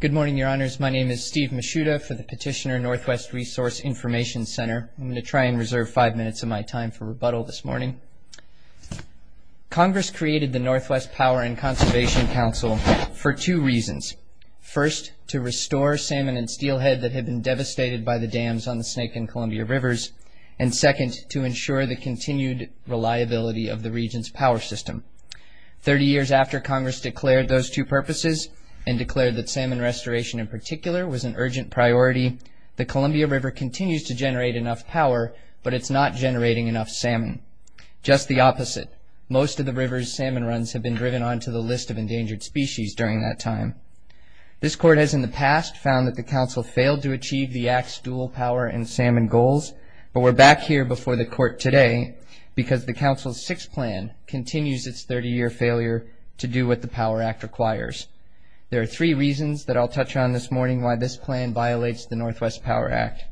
Good morning, your honors. My name is Steve Mishuda for the Petitioner Northwest Resource Information Center. I'm going to try and reserve five minutes of my time for rebuttal this morning. Congress created the Northwest Power and Conservation Council for two reasons. First, to restore salmon and steelhead that had been devastated by the dams on the Snake and Columbia Rivers, and second, to ensure the continued reliability of the region's power system. Thirty years after Congress declared those two purposes, and declared that salmon restoration in particular was an urgent priority, the Columbia River continues to generate enough power, but it's not generating enough salmon. Just the opposite. Most of the river's salmon runs have been driven onto the list of endangered species during that time. This Court has in the past found that the Council failed to achieve the Act's dual power and salmon goals, but we're back here before the Court today because the Council's sixth plan continues its 30-year failure to do what the Power Act requires. There are three reasons that I'll touch on this morning why this plan violates the Northwest Power Act.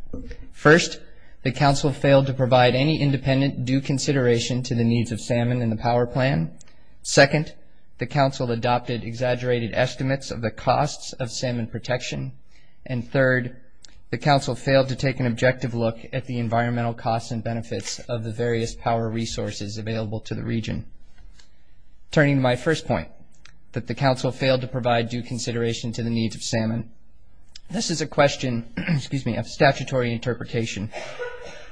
First, the Council failed to provide any independent due consideration to the needs of salmon in the Power Plan. Second, the Council adopted exaggerated estimates of the costs of salmon protection, and third, the Council failed to take an objective look at the environmental costs and benefits of the various power resources available to the region. Turning to my first point, that the Council failed to provide due consideration to the needs of salmon, this is a question, excuse me, of statutory interpretation.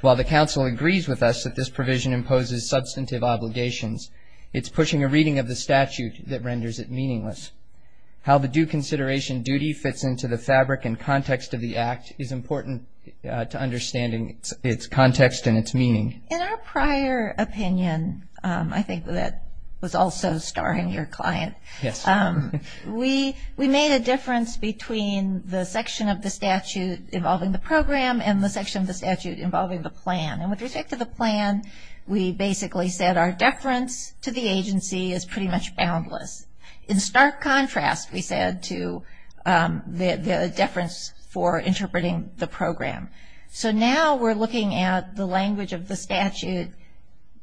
While the Council agrees with us that this provision imposes substantive obligations, it's pushing a reading of the statute that renders it meaningless. How the due consideration duty fits into the fabric and context of the Act is important to understanding its context and its meaning. In our prior opinion, I think that was also starring your client. Yes. We made a difference between the section of the statute involving the program and the section of the statute involving the plan. And with respect to the plan, we basically said our deference to the agency is pretty much boundless. In stark contrast, we said to the deference for interpreting the program. So now we're looking at the language of the statute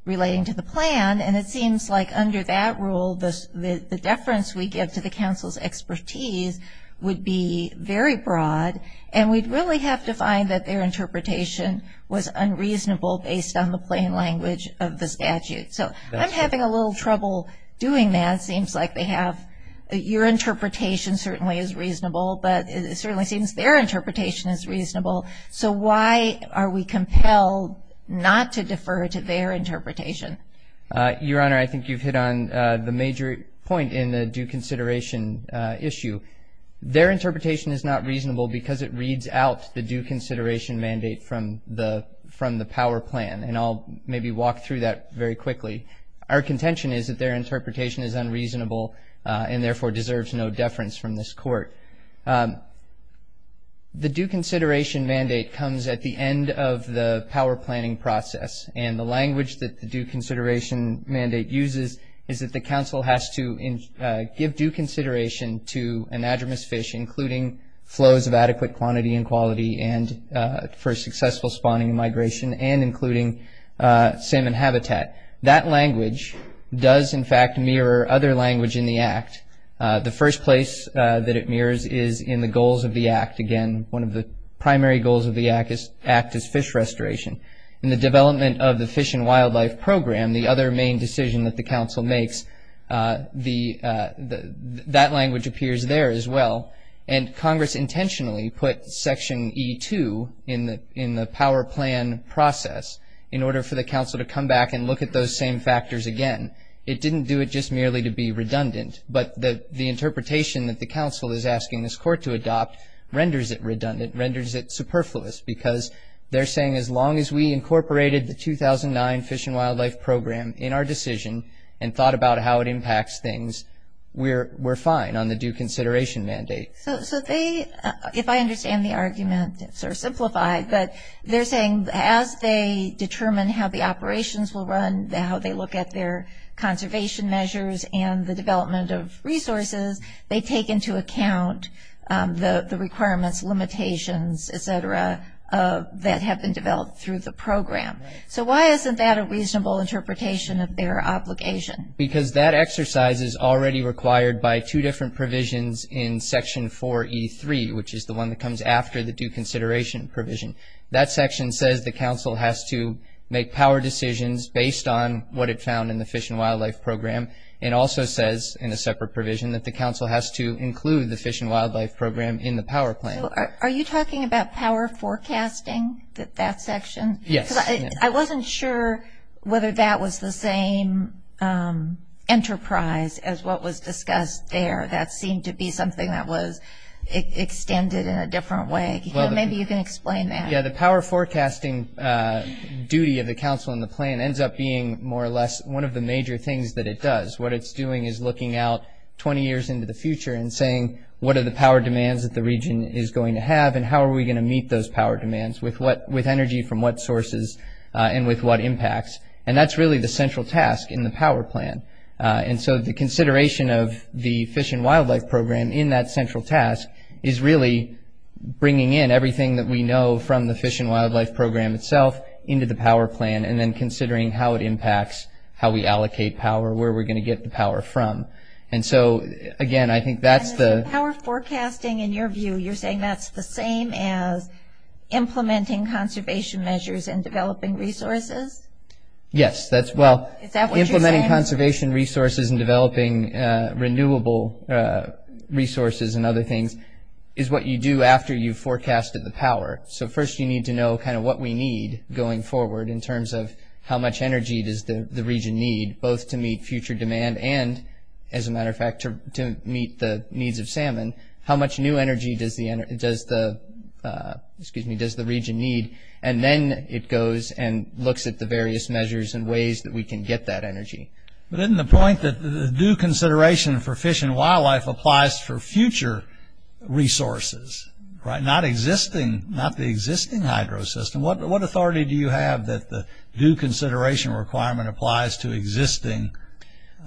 relating to the plan, and it seems like under that rule, the deference we give to the Council's expertise would be very broad, and we'd really have to find that their interpretation was unreasonable based on the plain language of the statute. So I'm having a little trouble doing that. It seems like they have your interpretation certainly is reasonable, but it certainly seems their interpretation is reasonable. So why are we compelled not to defer to their interpretation? Your Honor, I think you've hit on the major point in the due consideration issue. Their interpretation is not reasonable because it reads out the due consideration mandate from the from the power plan, and I'll maybe walk through that very quickly. Our contention is that their interpretation is unreasonable and therefore deserves no deference from this Court. The due consideration mandate comes at the end of the power planning process, and the language that the due consideration mandate uses is that the Council has to give due consideration to an adremis fish, including flows of adequate quantity and quality, and for successful spawning and migration, and including salmon habitat. That language does in fact mirror other language in the Act. The first place that it mirrors is in the goals of the Act. Again, one of the primary goals of the Act is act as fish restoration. In the development of the Fish and Wildlife Program, the other main decision that the Council makes, that language appears there as well, and in the power plan process, in order for the Council to come back and look at those same factors again, it didn't do it just merely to be redundant, but the interpretation that the Council is asking this Court to adopt renders it redundant, renders it superfluous, because they're saying as long as we incorporated the 2009 Fish and Wildlife Program in our decision and thought about how it impacts things, we're fine on the due consideration mandate. So they, if I understand the argument, sort of simplified, but they're saying as they determine how the operations will run, how they look at their conservation measures and the development of resources, they take into account the requirements, limitations, etc., that have been developed through the program. So why isn't that a reasonable interpretation of their obligation? Because that exercise is already required by two different provisions in Section 4 E3, which is the one that comes after the due consideration provision. That section says the Council has to make power decisions based on what it found in the Fish and Wildlife Program, and also says, in a separate provision, that the Council has to include the Fish and Wildlife Program in the power plan. Are you talking about power forecasting, that section? Yes. I wasn't sure whether that was the same enterprise as what was discussed there. That seemed to be something that was extended in a different way. Maybe you can explain that. Yeah, the power forecasting duty of the Council and the plan ends up being, more or less, one of the major things that it does. What it's doing is looking out 20 years into the future and saying, what are the power demands that the region is going to have, and how are we going to meet those power demands with what, with And so the consideration of the Fish and Wildlife Program, in that central task, is really bringing in everything that we know from the Fish and Wildlife Program itself into the power plan, and then considering how it impacts how we allocate power, where we're going to get the power from. And so, again, I think that's the... Power forecasting, in your view, you're saying that's the same as implementing conservation measures and developing resources? Yes, that's, well... Is that what you're saying? Implementing conservation resources and developing renewable resources and other things is what you do after you've forecasted the power. So first you need to know, kind of, what we need going forward in terms of how much energy does the region need, both to meet future demand and, as a matter of fact, to meet the needs of salmon. How much new energy does the energy, does the... And then it goes and looks at the various measures and ways that we can get that energy. But isn't the point that the due consideration for fish and wildlife applies for future resources, right? Not existing, not the existing hydro system. What authority do you have that the due consideration requirement applies to existing...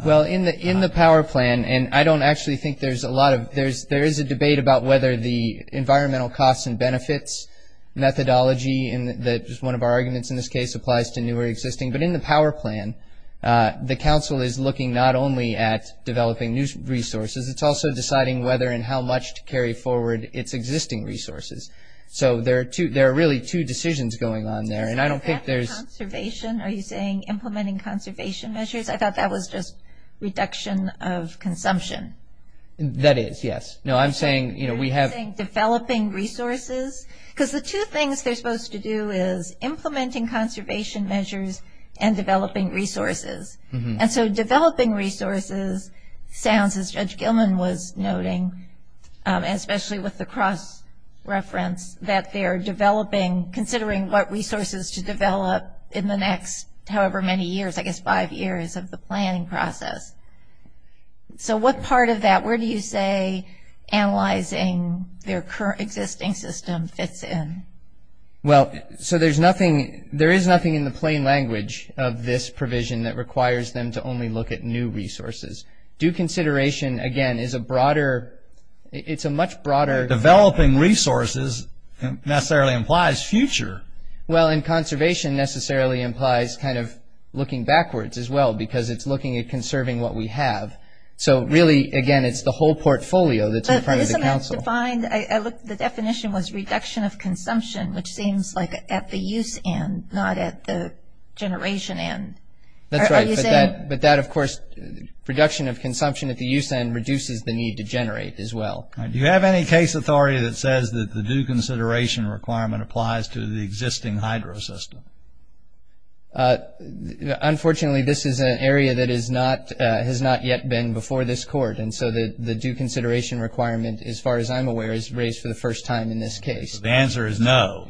Well, in the, in the power plan, and I don't actually think there's a lot of... There's, there is a debate about whether the environmental costs and benefits methodology, and that is one of our arguments in this case, applies to new or existing. But in the power plan, the council is looking not only at developing new resources, it's also deciding whether and how much to carry forward its existing resources. So there are two, there are really two decisions going on there, and I don't think there's... Conservation, are you saying implementing conservation measures? I thought that was just reduction of consumption. That is, yes. No, I'm saying, you know, we have... Because the two things they're supposed to do is implementing conservation measures and developing resources, and so developing resources sounds, as Judge Gilman was noting, especially with the cross-reference, that they are developing, considering what resources to develop in the next however many years, I guess five years of the planning process. So what part of that, where do you say analyzing their current existing system fits in? Well, so there's nothing, there is nothing in the plain language of this provision that requires them to only look at new resources. Due consideration, again, is a broader, it's a much broader... Developing resources necessarily implies future. Well, and conservation necessarily implies kind of looking backwards as well, because it's looking at conserving what we have. So really, again, it's the whole portfolio that's in front of the council. The definition was reduction of consumption, which seems like at the use end, not at the generation end. That's right, but that, of course, reduction of consumption at the use end reduces the need to generate as well. Do you have any case authority that says that the due consideration requirement applies to the existing hydro system? Unfortunately, this is an area that is not, has not yet been before this court. And so the due consideration requirement, as far as I'm aware, is raised for the first time in this case. The answer is no.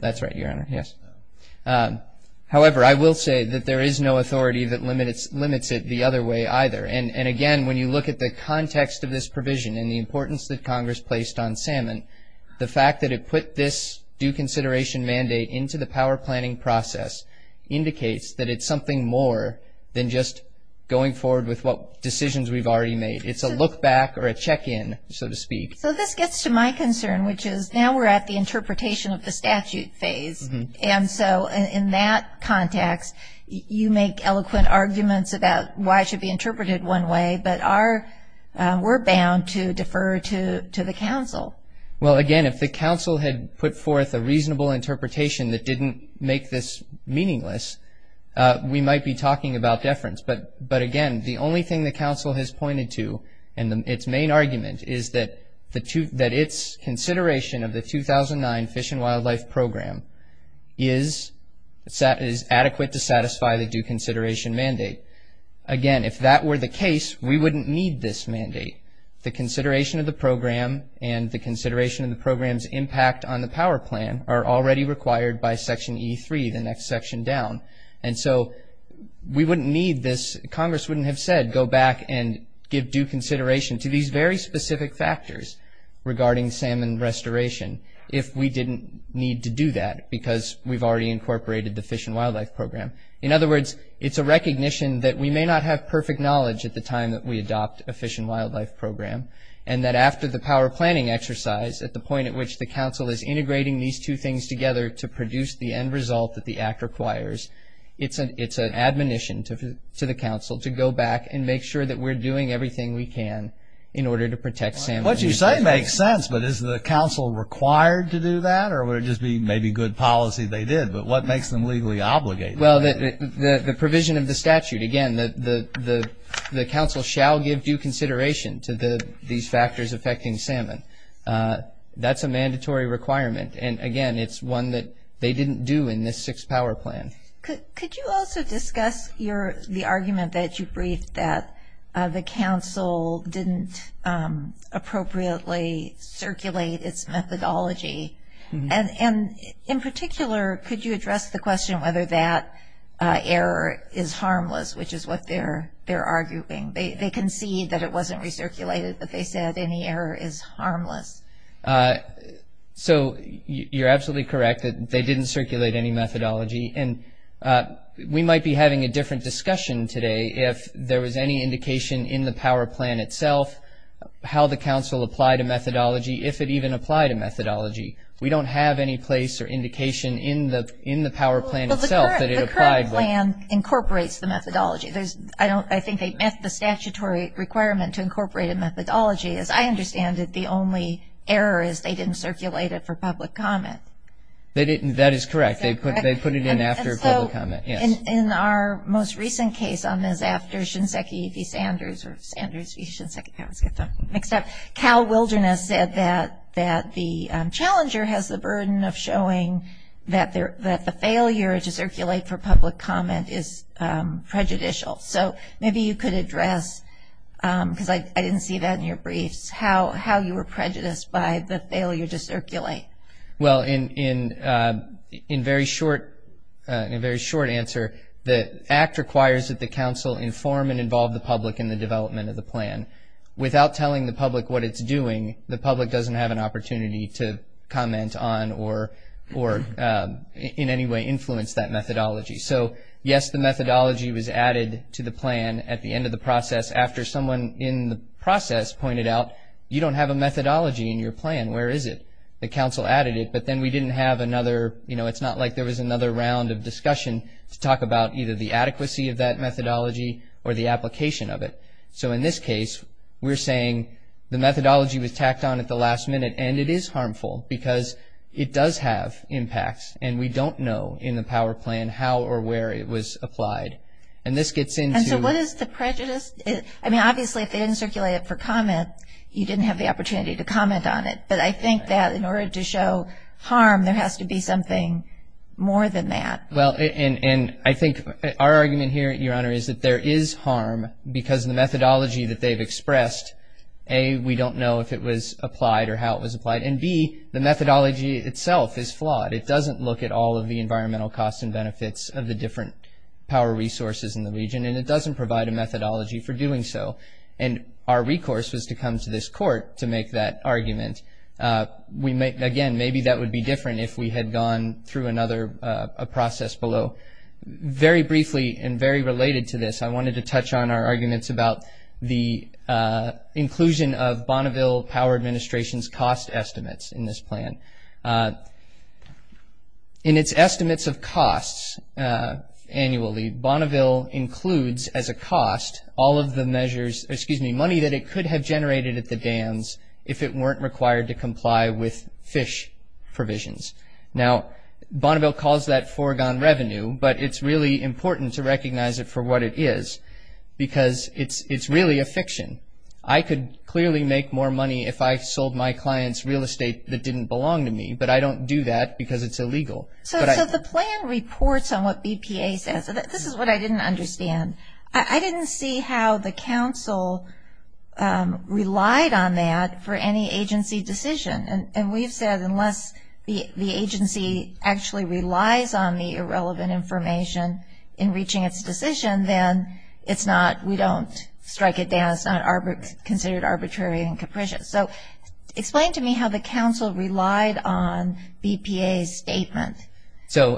That's right, Your Honor. Yes. However, I will say that there is no authority that limits it the other way either. And again, when you look at the context of this provision and the importance that Congress placed on Salmon, the fact that it put this due consideration mandate into the power planning process indicates that it's something more than just going forward with what decisions we've already made. It's a look back or a check-in, so to speak. So this gets to my concern, which is now we're at the interpretation of the statute phase. And so in that context, you make eloquent arguments about why it should be interpreted one way, but we're bound to defer to the council. Well, again, if the council had put forth a reasonable interpretation that didn't make this meaningless, we might be talking about deference. But again, the only thing the council has pointed to in its main argument is that its consideration of the 2009 Fish and Wildlife Program is adequate to satisfy the due consideration mandate. Again, if that were the case, we wouldn't need this mandate. The consideration of the program and the consideration of the program's impact on the power plan are already required by Section E3, the next section down. And so we wouldn't need this. Congress wouldn't have said, go back and give due consideration to these very specific factors regarding Salmon restoration if we didn't need to do that because we've already incorporated the Fish and Wildlife Program. In other words, it's a recognition that we may not have perfect knowledge at the time that we adopt a Fish and Wildlife Program, and that after the power planning exercise, at the point at which the council is integrating these two things together to produce the end result that the act requires, it's an admonition to the council to go back and make sure that we're doing everything we can in order to protect salmon. What you say makes sense, but is the council required to do that, or would it just be maybe good policy they did? But what makes them legally obligated? Well, the provision of the statute. Again, the council shall give due consideration to these factors affecting salmon. That's a mandatory requirement. And again, it's one that they didn't do in this sixth power plan. Could you also discuss the argument that you briefed, that the council didn't appropriately circulate its methodology? And in particular, could you address the question whether that error is harmless, which is what they're arguing? They concede that it wasn't recirculated, but they said any error is harmless. So you're absolutely correct that they didn't circulate any methodology. And we might be having a different discussion today if there was any indication in the power plan itself, how the council applied a methodology, if it even applied a methodology. We don't have any place or indication in the power plan itself that it applied. The current plan incorporates the methodology. I think they met the statutory requirement to incorporate a methodology. As I understand it, the only error is they didn't circulate it for public comment. That is correct. They put it in after public comment. In our most recent case on this, after Shinseki v. Sanders, or Sanders v. Shinseki, I always get that mixed up, Cal Wilderness said that the challenger has the burden of showing that the failure to circulate for public comment is prejudicial. So maybe you could address, because I didn't see that in your briefs, how you were prejudiced by the failure to circulate. Well, in very short answer, the Act requires that the council inform and involve the public in the development of the plan. Without telling the public what it's doing, the public doesn't have an opportunity to comment on or in any way influence that methodology. So, yes, the methodology was added to the plan at the end of the process, after someone in the process pointed out, you don't have a methodology in your plan, where is it? The council added it, but then we didn't have another, you know, it's not like there was another round of discussion to talk about either the adequacy of that methodology or the application of it. So in this case, we're saying the methodology was tacked on at the last minute, and it is harmful, because it does have impacts, and we don't know in the power plan how or where it was applied. And this gets into... And so what is the prejudice? I mean, obviously, if they didn't circulate it for comment, you didn't have the opportunity to comment on it. But I think that in order to show harm, there has to be something more than that. Well, and I think our argument here, Your Honor, is that there is harm, because the methodology that they've expressed, A, we don't know if it was applied or how it was applied, and B, the methodology itself is flawed. It doesn't look at all of the environmental costs and benefits of the different power resources in the region, and it doesn't provide a methodology for doing so. And our recourse was to come to this Court to make that argument. Again, maybe that would be different if we had gone through another process below. Very briefly, and very related to this, I wanted to touch on our arguments about the inclusion of Bonneville Power Administration's cost estimates in this plan. In its estimates of costs annually, Bonneville includes, as a cost, all of the money that it could have generated at the dams if it weren't required to comply with fish provisions. Now, Bonneville calls that foregone revenue, but it's really important to recognize it for what it is, because it's really a fiction. I could clearly make more money if I sold my clients real estate that didn't belong to me, but I don't do that because it's illegal. So the plan reports on what BPA says. This is what I didn't understand. I didn't see how the Council relied on that for any agency decision. And we've said unless the agency actually relies on the irrelevant information in reaching its decision, then we don't strike it down. It's not considered arbitrary and capricious. So explain to me how the Council relied on BPA's statement. So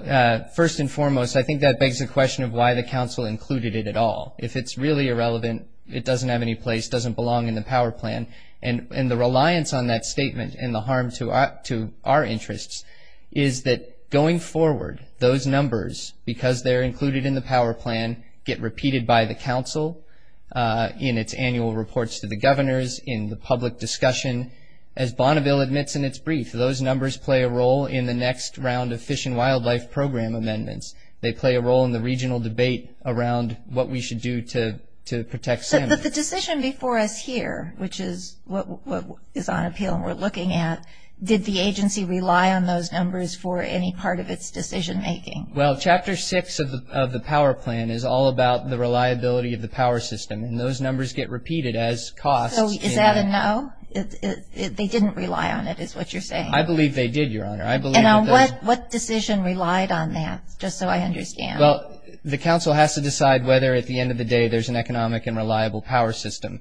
first and foremost, I think that begs the question of why the Council included it at all. If it's really irrelevant, it doesn't have any place, doesn't belong in the power plan. And the reliance on that statement and the harm to our interests is that going forward, those numbers, because they're included in the power plan, get repeated by the Council in its annual reports to the governors, in the public discussion. As Bonneville admits in its brief, those numbers play a role in the next round of Fish and Wildlife Program amendments. They play a role in the regional debate around what we should do to protect salmon. But the decision before us here, which is what is on appeal and we're looking at, did the agency rely on those numbers for any part of its decision making? Well, Chapter 6 of the power plan is all about the reliability of the power system. And those numbers get repeated as costs. So is that a no? They didn't rely on it, is what you're saying? I believe they did, Your Honor. And on what decision relied on that, just so I understand? Well, the Council has to decide whether at the end of the day there's an economic and reliable power system.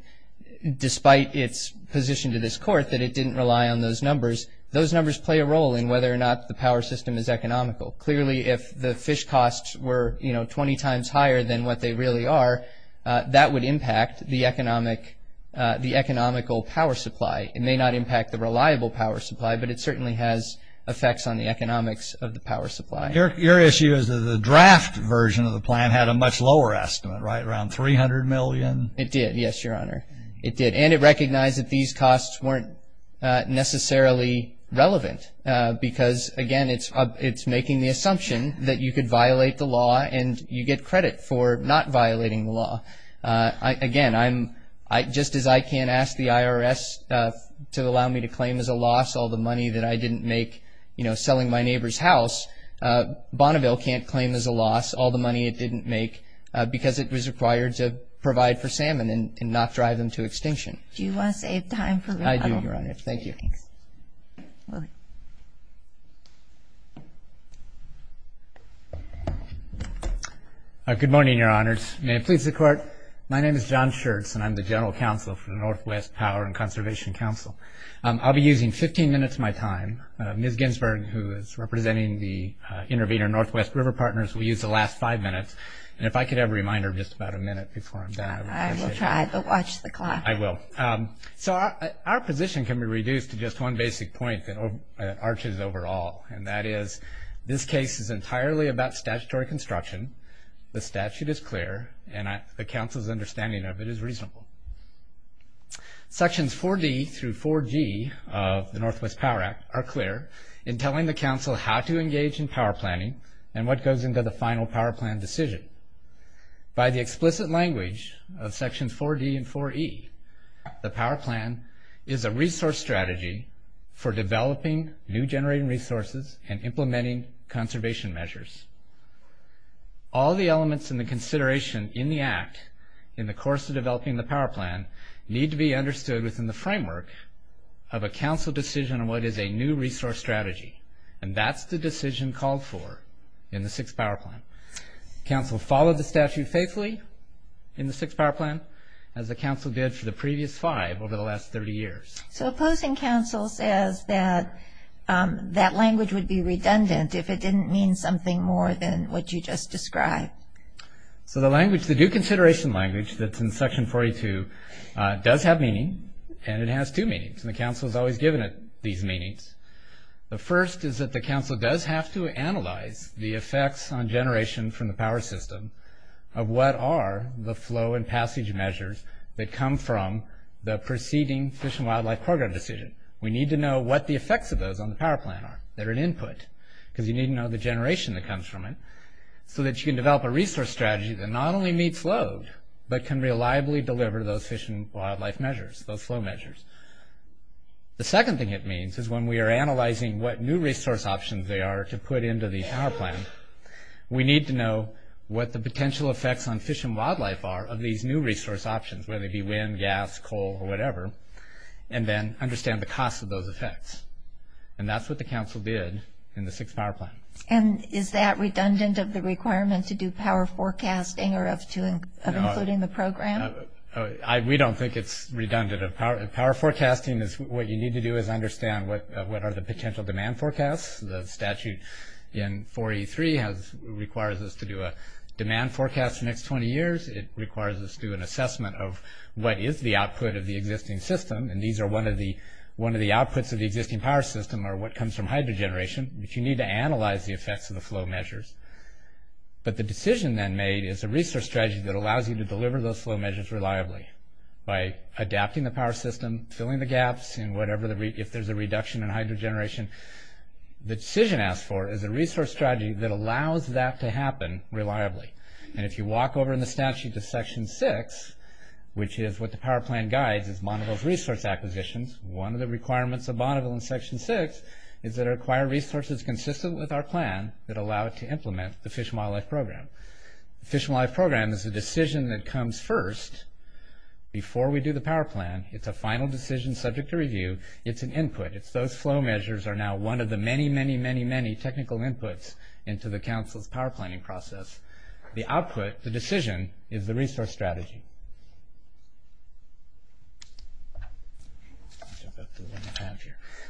Despite its position to this Court that it didn't rely on those numbers, those numbers play a role in whether or not the power system is economical. Clearly, if the fish costs were 20 times higher than what they really are, that would impact the economical power supply. It may not impact the reliable power supply, but it certainly has effects on the economics of the power supply. Your issue is that the draft version of the plan had a much lower estimate, right? Around $300 million? It did, yes, Your Honor. It did. And it recognized that these costs weren't necessarily relevant. Because, again, it's making the assumption that you could violate the law and you get credit for not violating the law. Again, just as I can't ask the IRS to allow me to claim as a loss all the money that I didn't make selling my neighbor's house, Bonneville can't claim as a loss all the money it didn't make because it was required to provide for salmon and not drive them to extinction. Do you want to save time for the rebuttal? I do, Your Honor. Thank you. Thank you. Good morning, Your Honors. May it please the Court. My name is John Schertz, and I'm the General Counsel for the Northwest Power and Conservation Council. I'll be using 15 minutes of my time. Ms. Ginsberg, who is representing the intervener Northwest River Partners, will use the last five minutes. And if I could have a reminder of just about a minute before I'm done, I would appreciate it. I will try. But watch the clock. I will. So our position can be reduced to just one basic point that arches over all, and that is this case is entirely about statutory construction. The statute is clear, and the counsel's understanding of it is reasonable. Sections 4D through 4G of the Northwest Power Act are clear in telling the counsel how to engage in power planning and what goes into the final power plan decision. By the explicit language of Sections 4D and 4E, the power plan is a resource strategy for developing new generating resources and implementing conservation measures. All the elements in the consideration in the Act, in the course of developing the power plan, need to be understood within the framework of a counsel decision on what is a new resource strategy. And that's the decision called for in the sixth power plan. Counsel followed the statute faithfully in the sixth power plan as the counsel did for the previous five over the last 30 years. So opposing counsel says that that language would be redundant if it didn't mean something more than what you just described. So the language, the due consideration language that's in Section 42, does have meaning, and it has two meanings. And the counsel has always given it these meanings. The first is that the counsel does have to analyze the effects on generation from the power system of what are the flow and passage measures that come from the preceding fish and wildlife program decision. We need to know what the effects of those on the power plan are. They're an input, because you need to know the generation that comes from it so that you can develop a resource strategy that not only meets load, but can reliably deliver those fish and wildlife measures, those flow measures. The second thing it means is when we are analyzing what new resource options there are to put into the power plan, we need to know what the potential effects on fish and wildlife are of these new resource options, whether it be wind, gas, coal, or whatever, and then understand the cost of those effects. And that's what the counsel did in the sixth power plan. And is that redundant of the requirement to do power forecasting or of including the program? We don't think it's redundant. Power forecasting, what you need to do is understand what are the potential demand forecasts. The statute in 4E3 requires us to do a demand forecast for the next 20 years. It requires us to do an assessment of what is the output of the existing system. And these are one of the outputs of the existing power system or what comes from hydro generation. But you need to analyze the effects of the flow measures. But the decision then made is a resource strategy that allows you to deliver those flow measures reliably by adapting the power system, filling the gaps, if there's a reduction in hydro generation. The decision asked for is a resource strategy that allows that to happen reliably. And if you walk over in the statute to section 6, which is what the power plan guides as Bonneville's resource acquisitions, one of the requirements of Bonneville in section 6 is that it requires resources consistent with our plan that allow it to implement the Fish and Wildlife Program. The Fish and Wildlife Program is a decision that comes first before we do the power plan. It's a final decision subject to review. It's an input. It's those flow measures are now one of the many, many, many, many technical inputs into the council's power planning process. The output, the decision, is the resource strategy.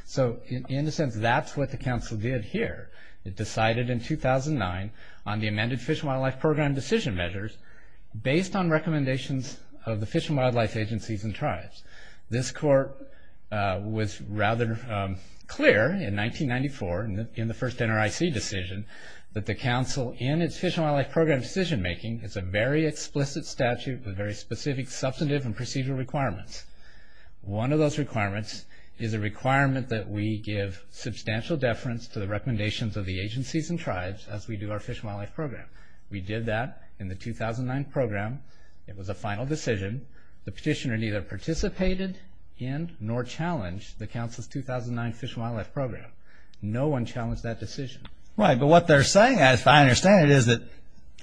So in a sense, that's what the council did here. It decided in 2009 on the amended Fish and Wildlife Program decision measures based on recommendations of the Fish and Wildlife Agencies and Tribes. This court was rather clear in 1994 in the first NRIC decision that the council in its Fish and Wildlife Program decision making is a very explicit statute with very specific substantive and procedural requirements. One of those requirements is a requirement that we give substantial deference to the recommendations of the agencies and tribes as we do our Fish and Wildlife Program. We did that in the 2009 program. It was a final decision. The petitioner neither participated in nor challenged the council's 2009 Fish and Wildlife Program. No one challenged that decision. Right, but what they're saying, as I understand it, is that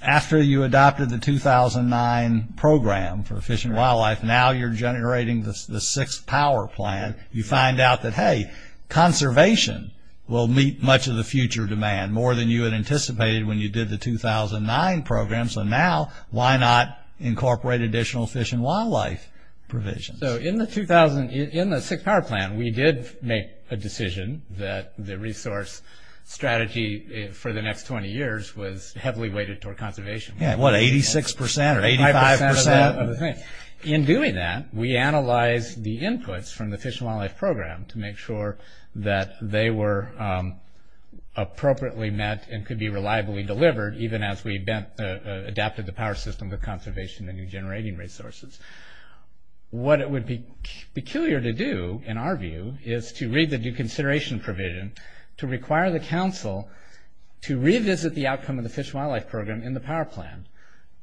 after you adopted the 2009 program for Fish and Wildlife, now you're generating the sixth power plan. You find out that, hey, conservation will meet much of the future demand more than you had anticipated when you did the 2009 program. So now, why not incorporate additional Fish and Wildlife provisions? So in the sixth power plan, we did make a decision that the resource strategy for the next 20 years was heavily weighted toward conservation. Yeah, what, 86% or 85%? In doing that, we analyzed the inputs from the Fish and Wildlife Program to make sure that they were appropriately met and could be reliably delivered even as we adapted the power system with conservation and new generating resources. What it would be peculiar to do, in our view, is to read the new consideration provision to require the council to revisit the outcome of the Fish and Wildlife Program in the power plan,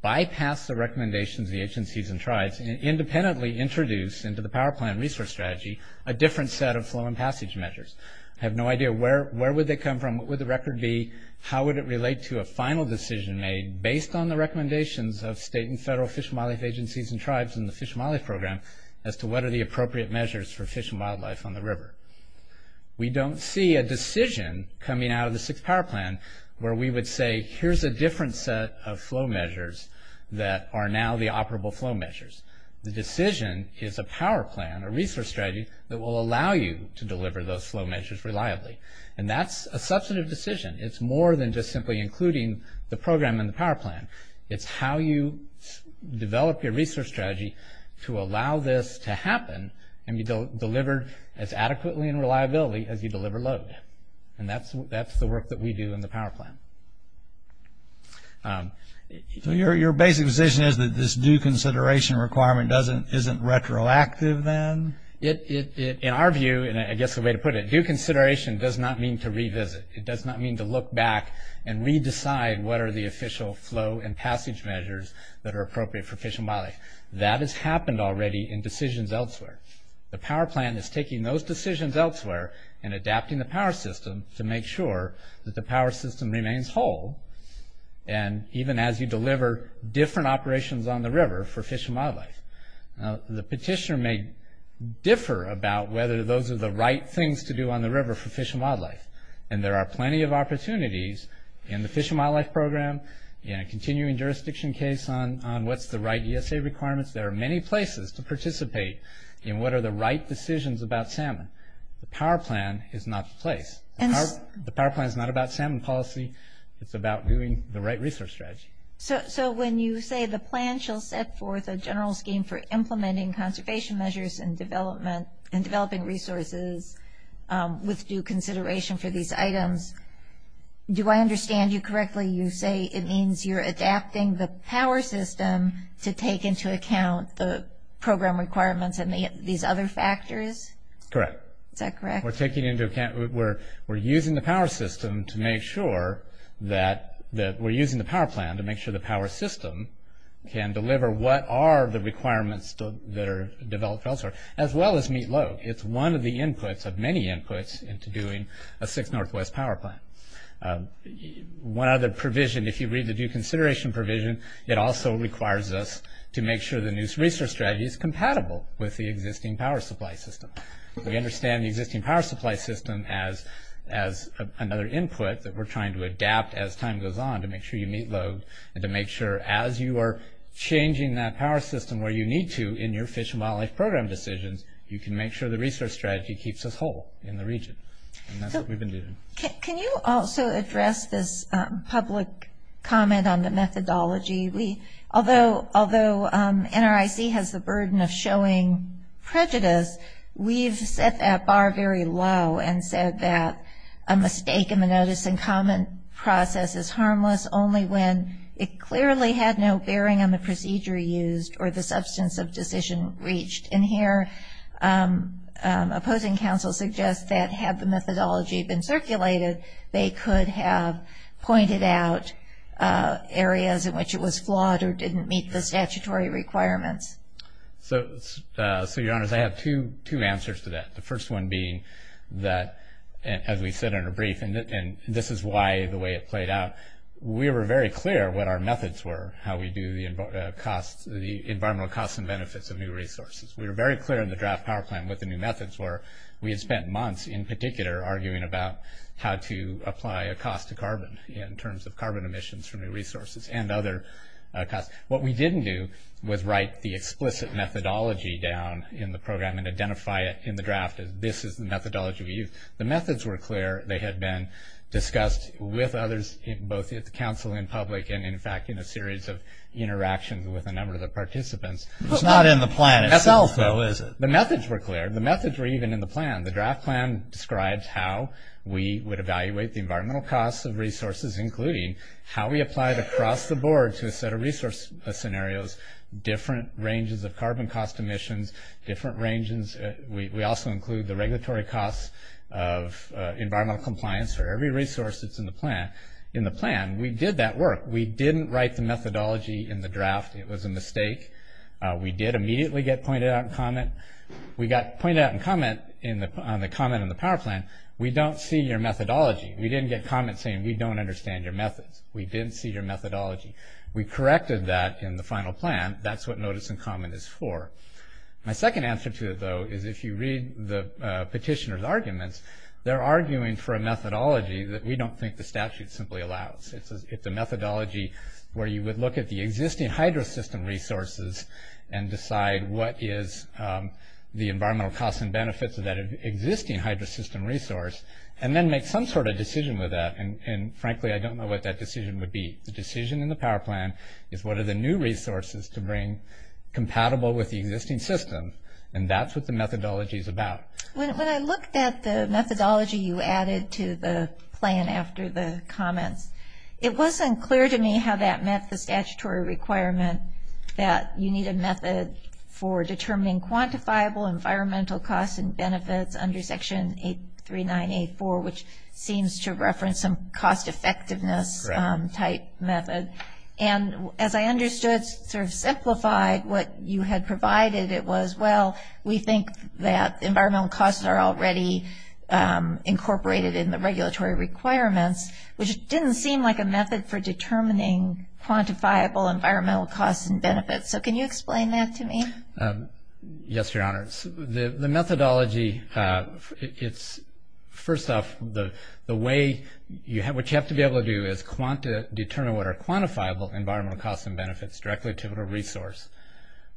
bypass the recommendations of the agencies and tribes, and independently introduce into the power plan resource strategy a different set of flow and passage measures. I have no idea where would they come from, what would the record be, how would it relate to a final decision made based on the recommendations of state and federal Fish and Wildlife agencies and tribes in the Fish and Wildlife Program as to what are the appropriate measures for fish and wildlife on the river. We don't see a decision coming out of the sixth power plan where we would say, here's a different set of flow measures that are now the operable flow measures. The decision is a power plan, a resource strategy, that will allow you to deliver those flow measures reliably. And that's a substantive decision. It's more than just simply including the program in the power plan. It's how you develop your resource strategy to allow this to happen and be delivered as adequately and reliably as you deliver load. And that's the work that we do in the power plan. So your basic position is that this due consideration requirement isn't retroactive then? In our view, and I guess the way to put it, due consideration does not mean to revisit. It does not mean to look back and re-decide what are the official flow and passage measures that are appropriate for fish and wildlife. That has happened already in decisions elsewhere. The power plan is taking those decisions elsewhere and adapting the power system to make sure that the power system remains whole and even as you deliver different operations on the river for fish and wildlife. The petitioner may differ about whether those are the right things to do on the river for fish and wildlife. And there are plenty of opportunities in the fish and wildlife program, in a continuing jurisdiction case on what's the right ESA requirements. There are many places to participate in what are the right decisions about salmon. The power plan is not the place. The power plan is not about salmon policy. It's about doing the right resource strategy. So when you say the plan shall set forth a general scheme for implementing conservation measures and developing resources with due consideration for these items, do I understand you correctly? You say it means you're adapting the power system to take into account the program requirements and these other factors? Correct. Is that correct? We're taking into account, we're using the power system to make sure that we're using the power plan to make sure the power system can deliver what are the requirements that are developed elsewhere as well as meet load. It's one of the inputs, of many inputs, into doing a 6 Northwest power plan. One other provision, if you read the due consideration provision, it also requires us to make sure the new resource strategy is compatible with the existing power supply system. We understand the existing power supply system as another input that we're trying to adapt as time goes on to make sure you meet load and to make sure as you are changing that power system where you need to in your fish and wildlife program decisions, you can make sure the resource strategy keeps us whole in the region. Can you also address this public comment on the methodology? Although NRIC has the burden of showing prejudice, we've set that bar very low and said that a mistake in the notice and comment process is harmless only when it clearly had no bearing on the procedure used or the substance of decision reached. And here, opposing counsel suggests that had the methodology been circulated, they could have pointed out areas in which it was flawed or didn't meet the statutory requirements. So, your honors, I have two answers to that. The first one being that, as we said in a brief, and this is why the way it played out, we were very clear what our methods were, how we do the environmental costs and benefits of new resources. We were very clear in the draft power plan what the new methods were. We had spent months, in particular, arguing about how to apply a cost to carbon in terms of carbon emissions from new resources and other costs. What we didn't do was write the explicit methodology down in the program and identify it in the draft as this is the methodology we use. The methods were clear. They had been discussed with others, both at the council and public, and, in fact, in a series of interactions with a number of the participants. It's not in the plan itself, though, is it? The methods were clear. The methods were even in the plan. The draft plan describes how we would evaluate the environmental costs of resources, including how we applied across the board to a set of resource scenarios, different ranges of carbon cost emissions, different ranges. We also include the regulatory costs of environmental compliance for every resource that's in the plan. In the plan, we did that work. We didn't write the methodology in the draft. It was a mistake. We did immediately get pointed out in comment. We got pointed out in comment on the comment in the power plan, we don't see your methodology. We didn't get comment saying, we don't understand your methods. We didn't see your methodology. We corrected that in the final plan. That's what notice in comment is for. My second answer to it, though, is if you read the petitioner's arguments, they're arguing for a methodology that we don't think the statute simply allows. It's a methodology where you would look at the existing hydro system resources and decide what is the environmental costs and benefits of that existing hydro system resource and then make some sort of decision with that. Frankly, I don't know what that decision would be. The decision in the power plan is what are the new resources to bring compatible with the existing system. That's what the methodology is about. When I looked at the methodology you added to the plan after the comments, it wasn't clear to me how that met the statutory requirement that you need a method for determining quantifiable environmental costs and benefits under Section 839-84 which seems to reference some cost effectiveness type method. As I understood, to simplify what you had provided, it was well, we think that environmental costs are already incorporated in the regulatory requirements which didn't seem like a method for determining quantifiable environmental costs and benefits. Can you explain that to me? Yes, Your Honor. The methodology it's first off, the way what you have to be able to do is determine what are quantifiable environmental costs and benefits directly to the resource.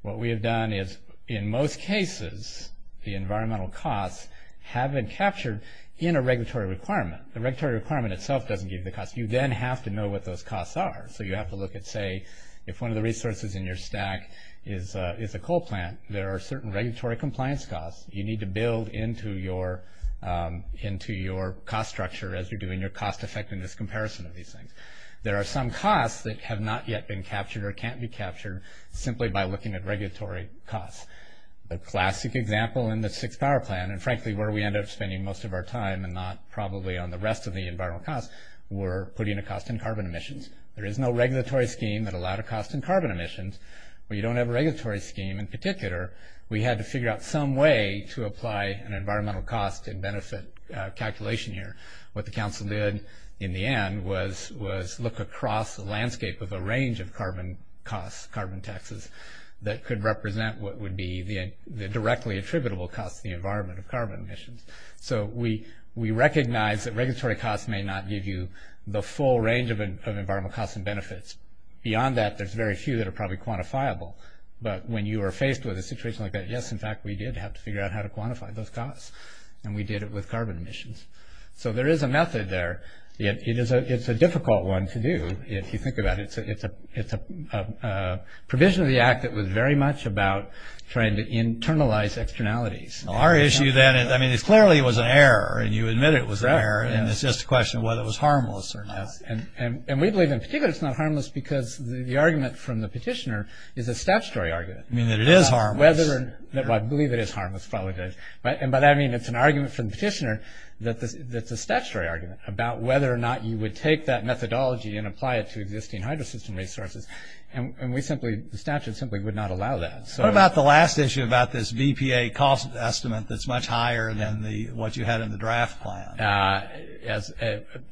What we have done is in most cases the environmental costs have been captured in a regulatory requirement. The regulatory requirement itself doesn't give the costs. You then have to know what those costs are. You have to look at, say, if one of the resources in your stack is a coal plant, there are certain regulatory compliance costs you need to build into your cost structure as you're doing your cost effectiveness comparison of these things. There are some costs that have not yet been captured or can't be captured simply by looking at regulatory costs. The classic example in the Sixth Power Plan, and frankly where we end up spending most of our time and not probably on the rest of the environmental costs, were putting a cost in carbon emissions. There is no regulatory scheme that allowed a cost in carbon emissions. We don't have a regulatory scheme in particular. We had to figure out some way to apply an environmental cost and benefit calculation here. What the Council did in the end was look across the landscape of a range of carbon costs, carbon taxes that could represent what would be the directly attributable costs to the environment of carbon emissions. We recognize that regulatory costs may not give you the full range of environmental costs and benefits. Beyond that, there's very few that are probably quantifiable. When you are faced with a situation like that, yes, in fact, we did have to figure out how to quantify those costs. We did it with carbon emissions. There is a method there. It's a difficult one to do if you think about it. It's a provision of the Act that was very much about trying to internalize externalities. It clearly was an error and you admit it was an error. It's just a question of whether it was harmless or not. We believe in particular it's not harmless because the argument from the petitioner is a statutory argument. I believe it is harmless. It's an argument from the petitioner that's a statutory argument about whether or not you would take that methodology and apply it to existing hydro system resources. The statute simply would not allow that. What about the last issue about this BPA cost estimate that's much higher than what you had in the draft plan?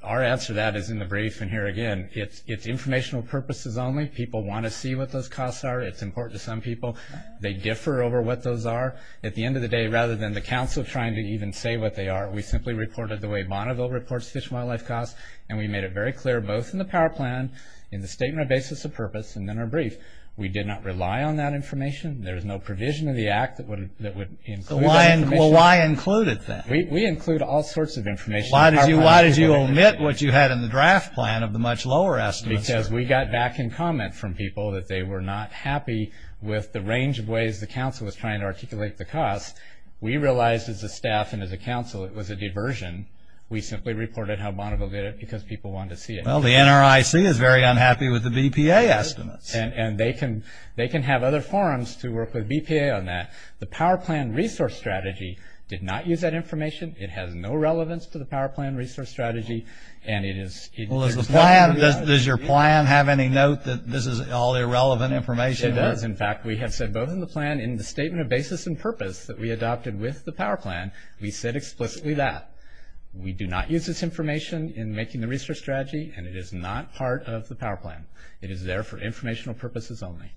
Our answer to that is in the brief and here again. It's informational purposes only. People want to see what those costs are. It's important to some people. They differ over what those are. At the end of the day rather than the council trying to even say what they are, we simply reported the way Bonneville reports fish and wildlife costs and we made it very clear both in the power plan in the statement of basis of purpose and in our brief. We did not rely on that information. There is no provision of the Act that would include that information. Why include it then? We include all sorts of information. Why did you omit what you had in the draft plan of the much lower estimates? Because we got back in comment from people that they were not happy with the range of ways the council was trying to articulate the costs. We realized as a staff and as a council it was a diversion. We simply reported how Bonneville did it because people wanted to see it. Well the NRIC is very unhappy with the BPA estimates. They can have other forums to work with BPA on that. The power plan resource strategy did not use that information. It has no relevance to the power plan resource strategy and it is... Well does the plan does your plan have any note that this is all irrelevant information? It does in fact we have said both in the plan in the statement of basis and purpose that we adopted with the power plan we said explicitly that. We do not use this information in making the resource strategy and it is not part of the power plan. It is there for informational purposes only.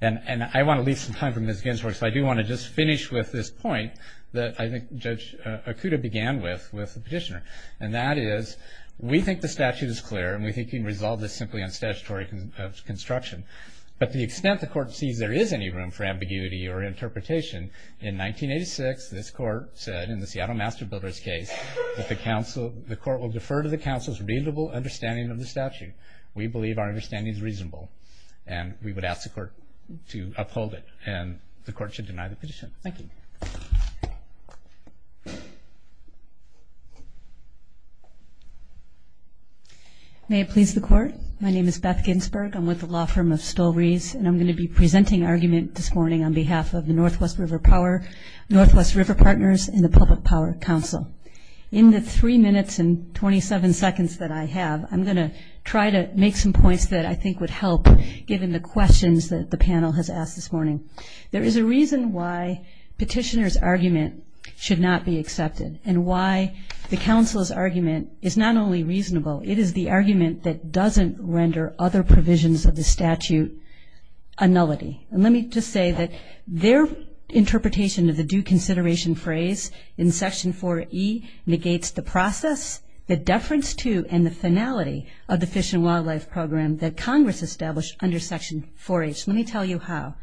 And I want to leave some time for Ms. Ginsberg so I do want to just finish with this point that I think Judith began with with the petitioner and that is we think the statute is clear and we think we can resolve this simply on statutory construction but the extent the court sees there is any room for ambiguity or interpretation in 1986 this court said in the Seattle Master Builders case that the council the court will defer to the council's reasonable understanding of the statute. We believe our understanding is reasonable and we would ask the court to uphold it and the court should deny the petition. Thank you. May it please the court. My name is Beth Ginsberg. I'm with the law firm of Stolbreeze and I'm going to be presenting argument this morning on behalf of the Northwest River Power Northwest River Partners and the Public Power Council. In the three minutes and 27 seconds that I have I'm going to try to make some points that I think would help given the questions that the panel has asked this morning. There is a reason why petitioner's argument should not be accepted. And why the council's argument is not only reasonable, it is the argument that doesn't render other provisions of the statute a nullity. And let me just say that their interpretation of the due consideration phrase in section 4E negates the process, the deference to and the finality of the Fish and Wildlife Program that Congress established under section 4H. Let me tell you how.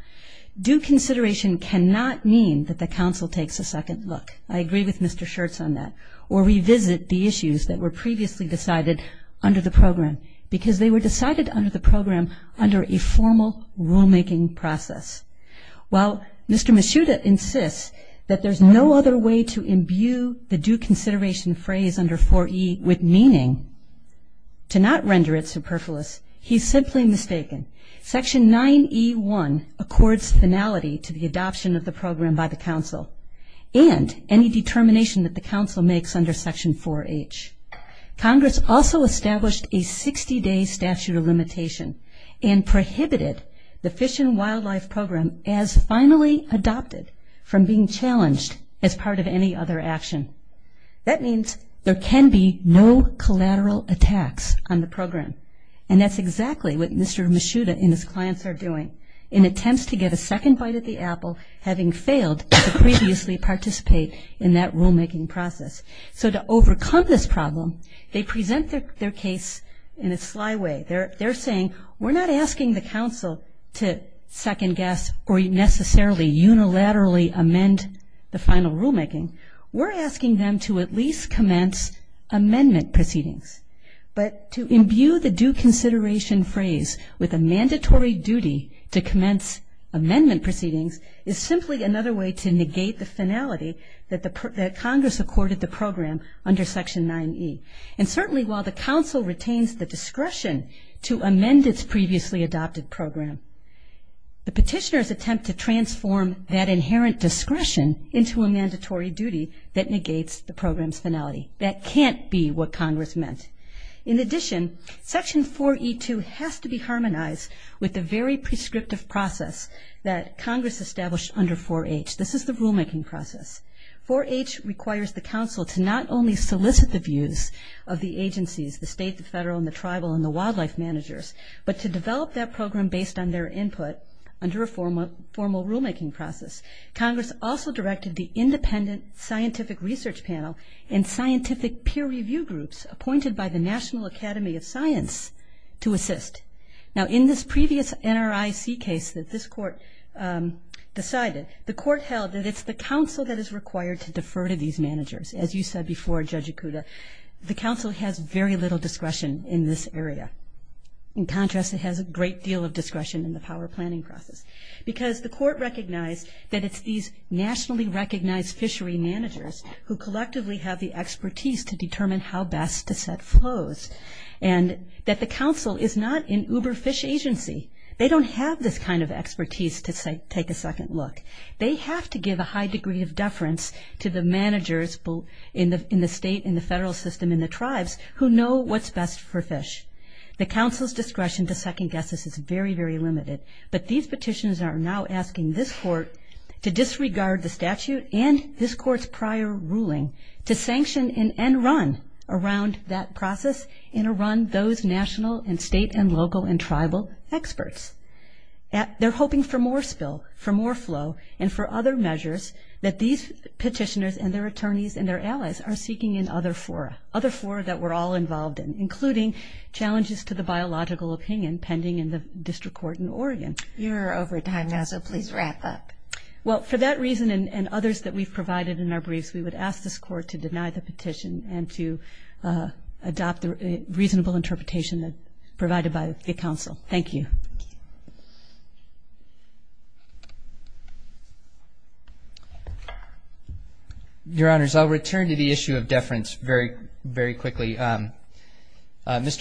Due consideration cannot mean that the council takes a second look. I agree with Mr. Schertz on that. Or revisit the issues that were previously decided under the program. Because they were decided under the program under a formal rulemaking process. While Mr. Mishuda insists that there's no other way to imbue the due consideration phrase under 4E with meaning to not render it superfluous, he's simply mistaken. Section 9E1 accords finality to the adoption of the program by the council and any determination that the council makes under section 4H. Congress also established a 60-day statute of limitation and prohibited the Fish and Wildlife Program as finally adopted from being challenged as part of any other action. That means there can be no collateral attacks on the program. And that's exactly what Mr. Mishuda and his clients are doing in attempts to get a second bite at the apple, having failed to previously participate in that rulemaking process. So to overcome this problem, they present their case in a sly way. They're saying we're not asking the council to second guess or necessarily unilaterally amend the final rulemaking. We're asking them to at least commence amendment proceedings. But to imbue the due consideration phrase with a mandatory duty to commence amendment proceedings is simply another way to negate the finality that Congress accorded the program under section 9E. And certainly while the council retains the discretion to amend its previously adopted program, the petitioners attempt to transform that inherent discretion into a mandatory duty that negates the program's finality. That can't be what Congress meant. In addition, section 4E2 has to be harmonized with the very prescriptive process that Congress established under 4H. This is the rulemaking process. 4H requires the council to not only solicit the views of the agencies, the state, the federal, and the tribal, and the wildlife managers, but to develop that program based on their input under a formal rulemaking process. Congress also directed the independent scientific research panel and scientific peer review groups appointed by the National Academy of Science to assist. Now in this previous NRIC case that this court decided, the court held that it's the council that is required to defer to these managers. As you said before, Judge Ikuda, the council has very little discretion in this area. In contrast, it has a great deal of discretion in the power planning process because the court recognized that it's these nationally recognized fishery managers who collectively have the expertise to determine how best to set flows. And that the council is not an uber fish agency. They don't have this kind of expertise to take a second look. They have to give a high degree of deference to the managers in the state, in the federal system, in the tribes, who know what's best for fish. The council's discretion to second guess this is very, very limited. But these petitions are now asking this court to disregard the statute and this court's prior ruling to sanction and run around that process and to run those national and state and local and tribal experts. They're hoping for more spill, for more flow, and for other measures that these petitioners and their attorneys and their allies are seeking in other fora. Other fora that we're all involved in, including challenges to the biological opinion pending in the district court in Oregon. You're over time now, so please wrap up. Well, for that reason and others that we've counsel to deny the petition and to adopt the reasonable interpretation provided by the council. Thank you. Your Honors, I'll return to the issue of deference very, very quickly. Mr.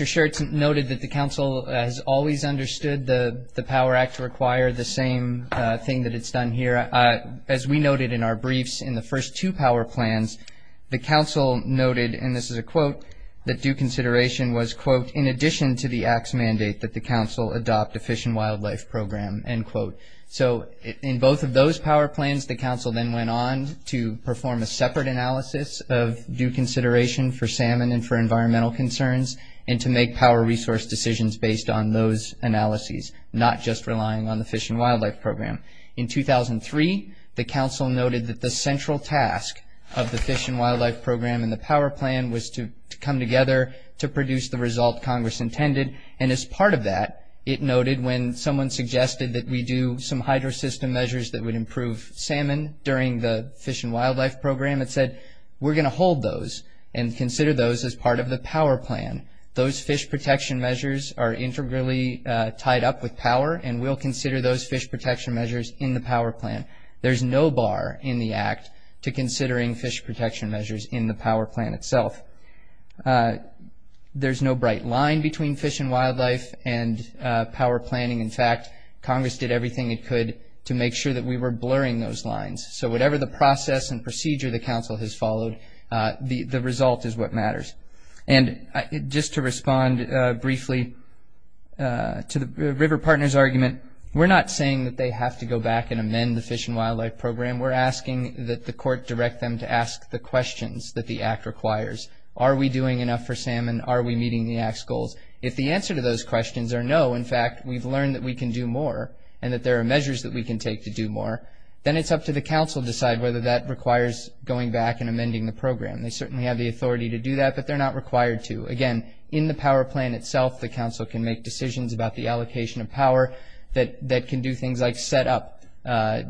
Schertz noted that the council has always understood the Power Act to require the same thing that it's done here. As we noted in our briefs in the first two power plans, the council noted, and this is a quote, that due consideration was quote, in addition to the acts mandate that the council adopt a fish and wildlife program, end quote. So in both of those power plans, the council then went on to perform a separate analysis of due consideration for salmon and for environmental concerns and to make power resource decisions based on those analyses, not just relying on the fish and wildlife program. And in paragraph 3, the council noted that the central task of the fish and wildlife program and the power plan was to come together to produce the result Congress intended. And as part of that, it noted when someone suggested that we do some hydro system measures that would improve salmon during the fish and wildlife program, it said, we're going to hold those and consider those as part of the power plan. Those fish protection measures are integrally tied up with power and we'll consider those fish protection measures in the power plan. There's no bar in the act to considering fish protection measures in the power plan itself. There's no bright line between fish and wildlife and power planning. In fact, Congress did everything it could to make sure that we were blurring those lines. So whatever the process and procedure the council has followed, the result is what matters. And just to respond briefly to the River Partners argument, we're not saying that they have to go back and amend the fish and wildlife program. We're asking that the court direct them to ask the questions that the act requires. Are we doing enough for salmon? Are we meeting the act's goals? If the answer to those questions are no, in fact, we've learned that we can do more and that there are measures that we can take to do more, then it's up to the council to decide whether that requires going back and amending the program. They certainly have the authority to do that, but they're not required to. Again, in the power plan itself, the council can make decisions about the allocation of power that can do things like set up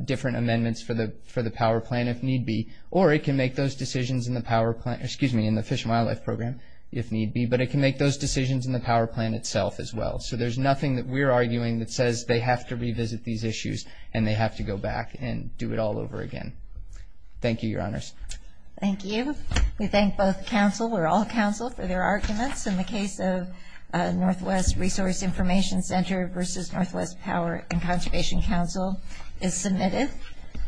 different amendments for the power plan if need be, or it can make those decisions in the power plan, excuse me, in the fish and wildlife program if need be, but it can make those decisions in the power plan itself as well. So there's nothing that we're arguing that says they have to revisit these issues and they have to go back and do it all over again. Thank you, Your Honors. Thank you. We thank both council, or all council, for their arguments in the case of Northwest Resource Information Center versus Northwest Power and Conservation Council is submitted.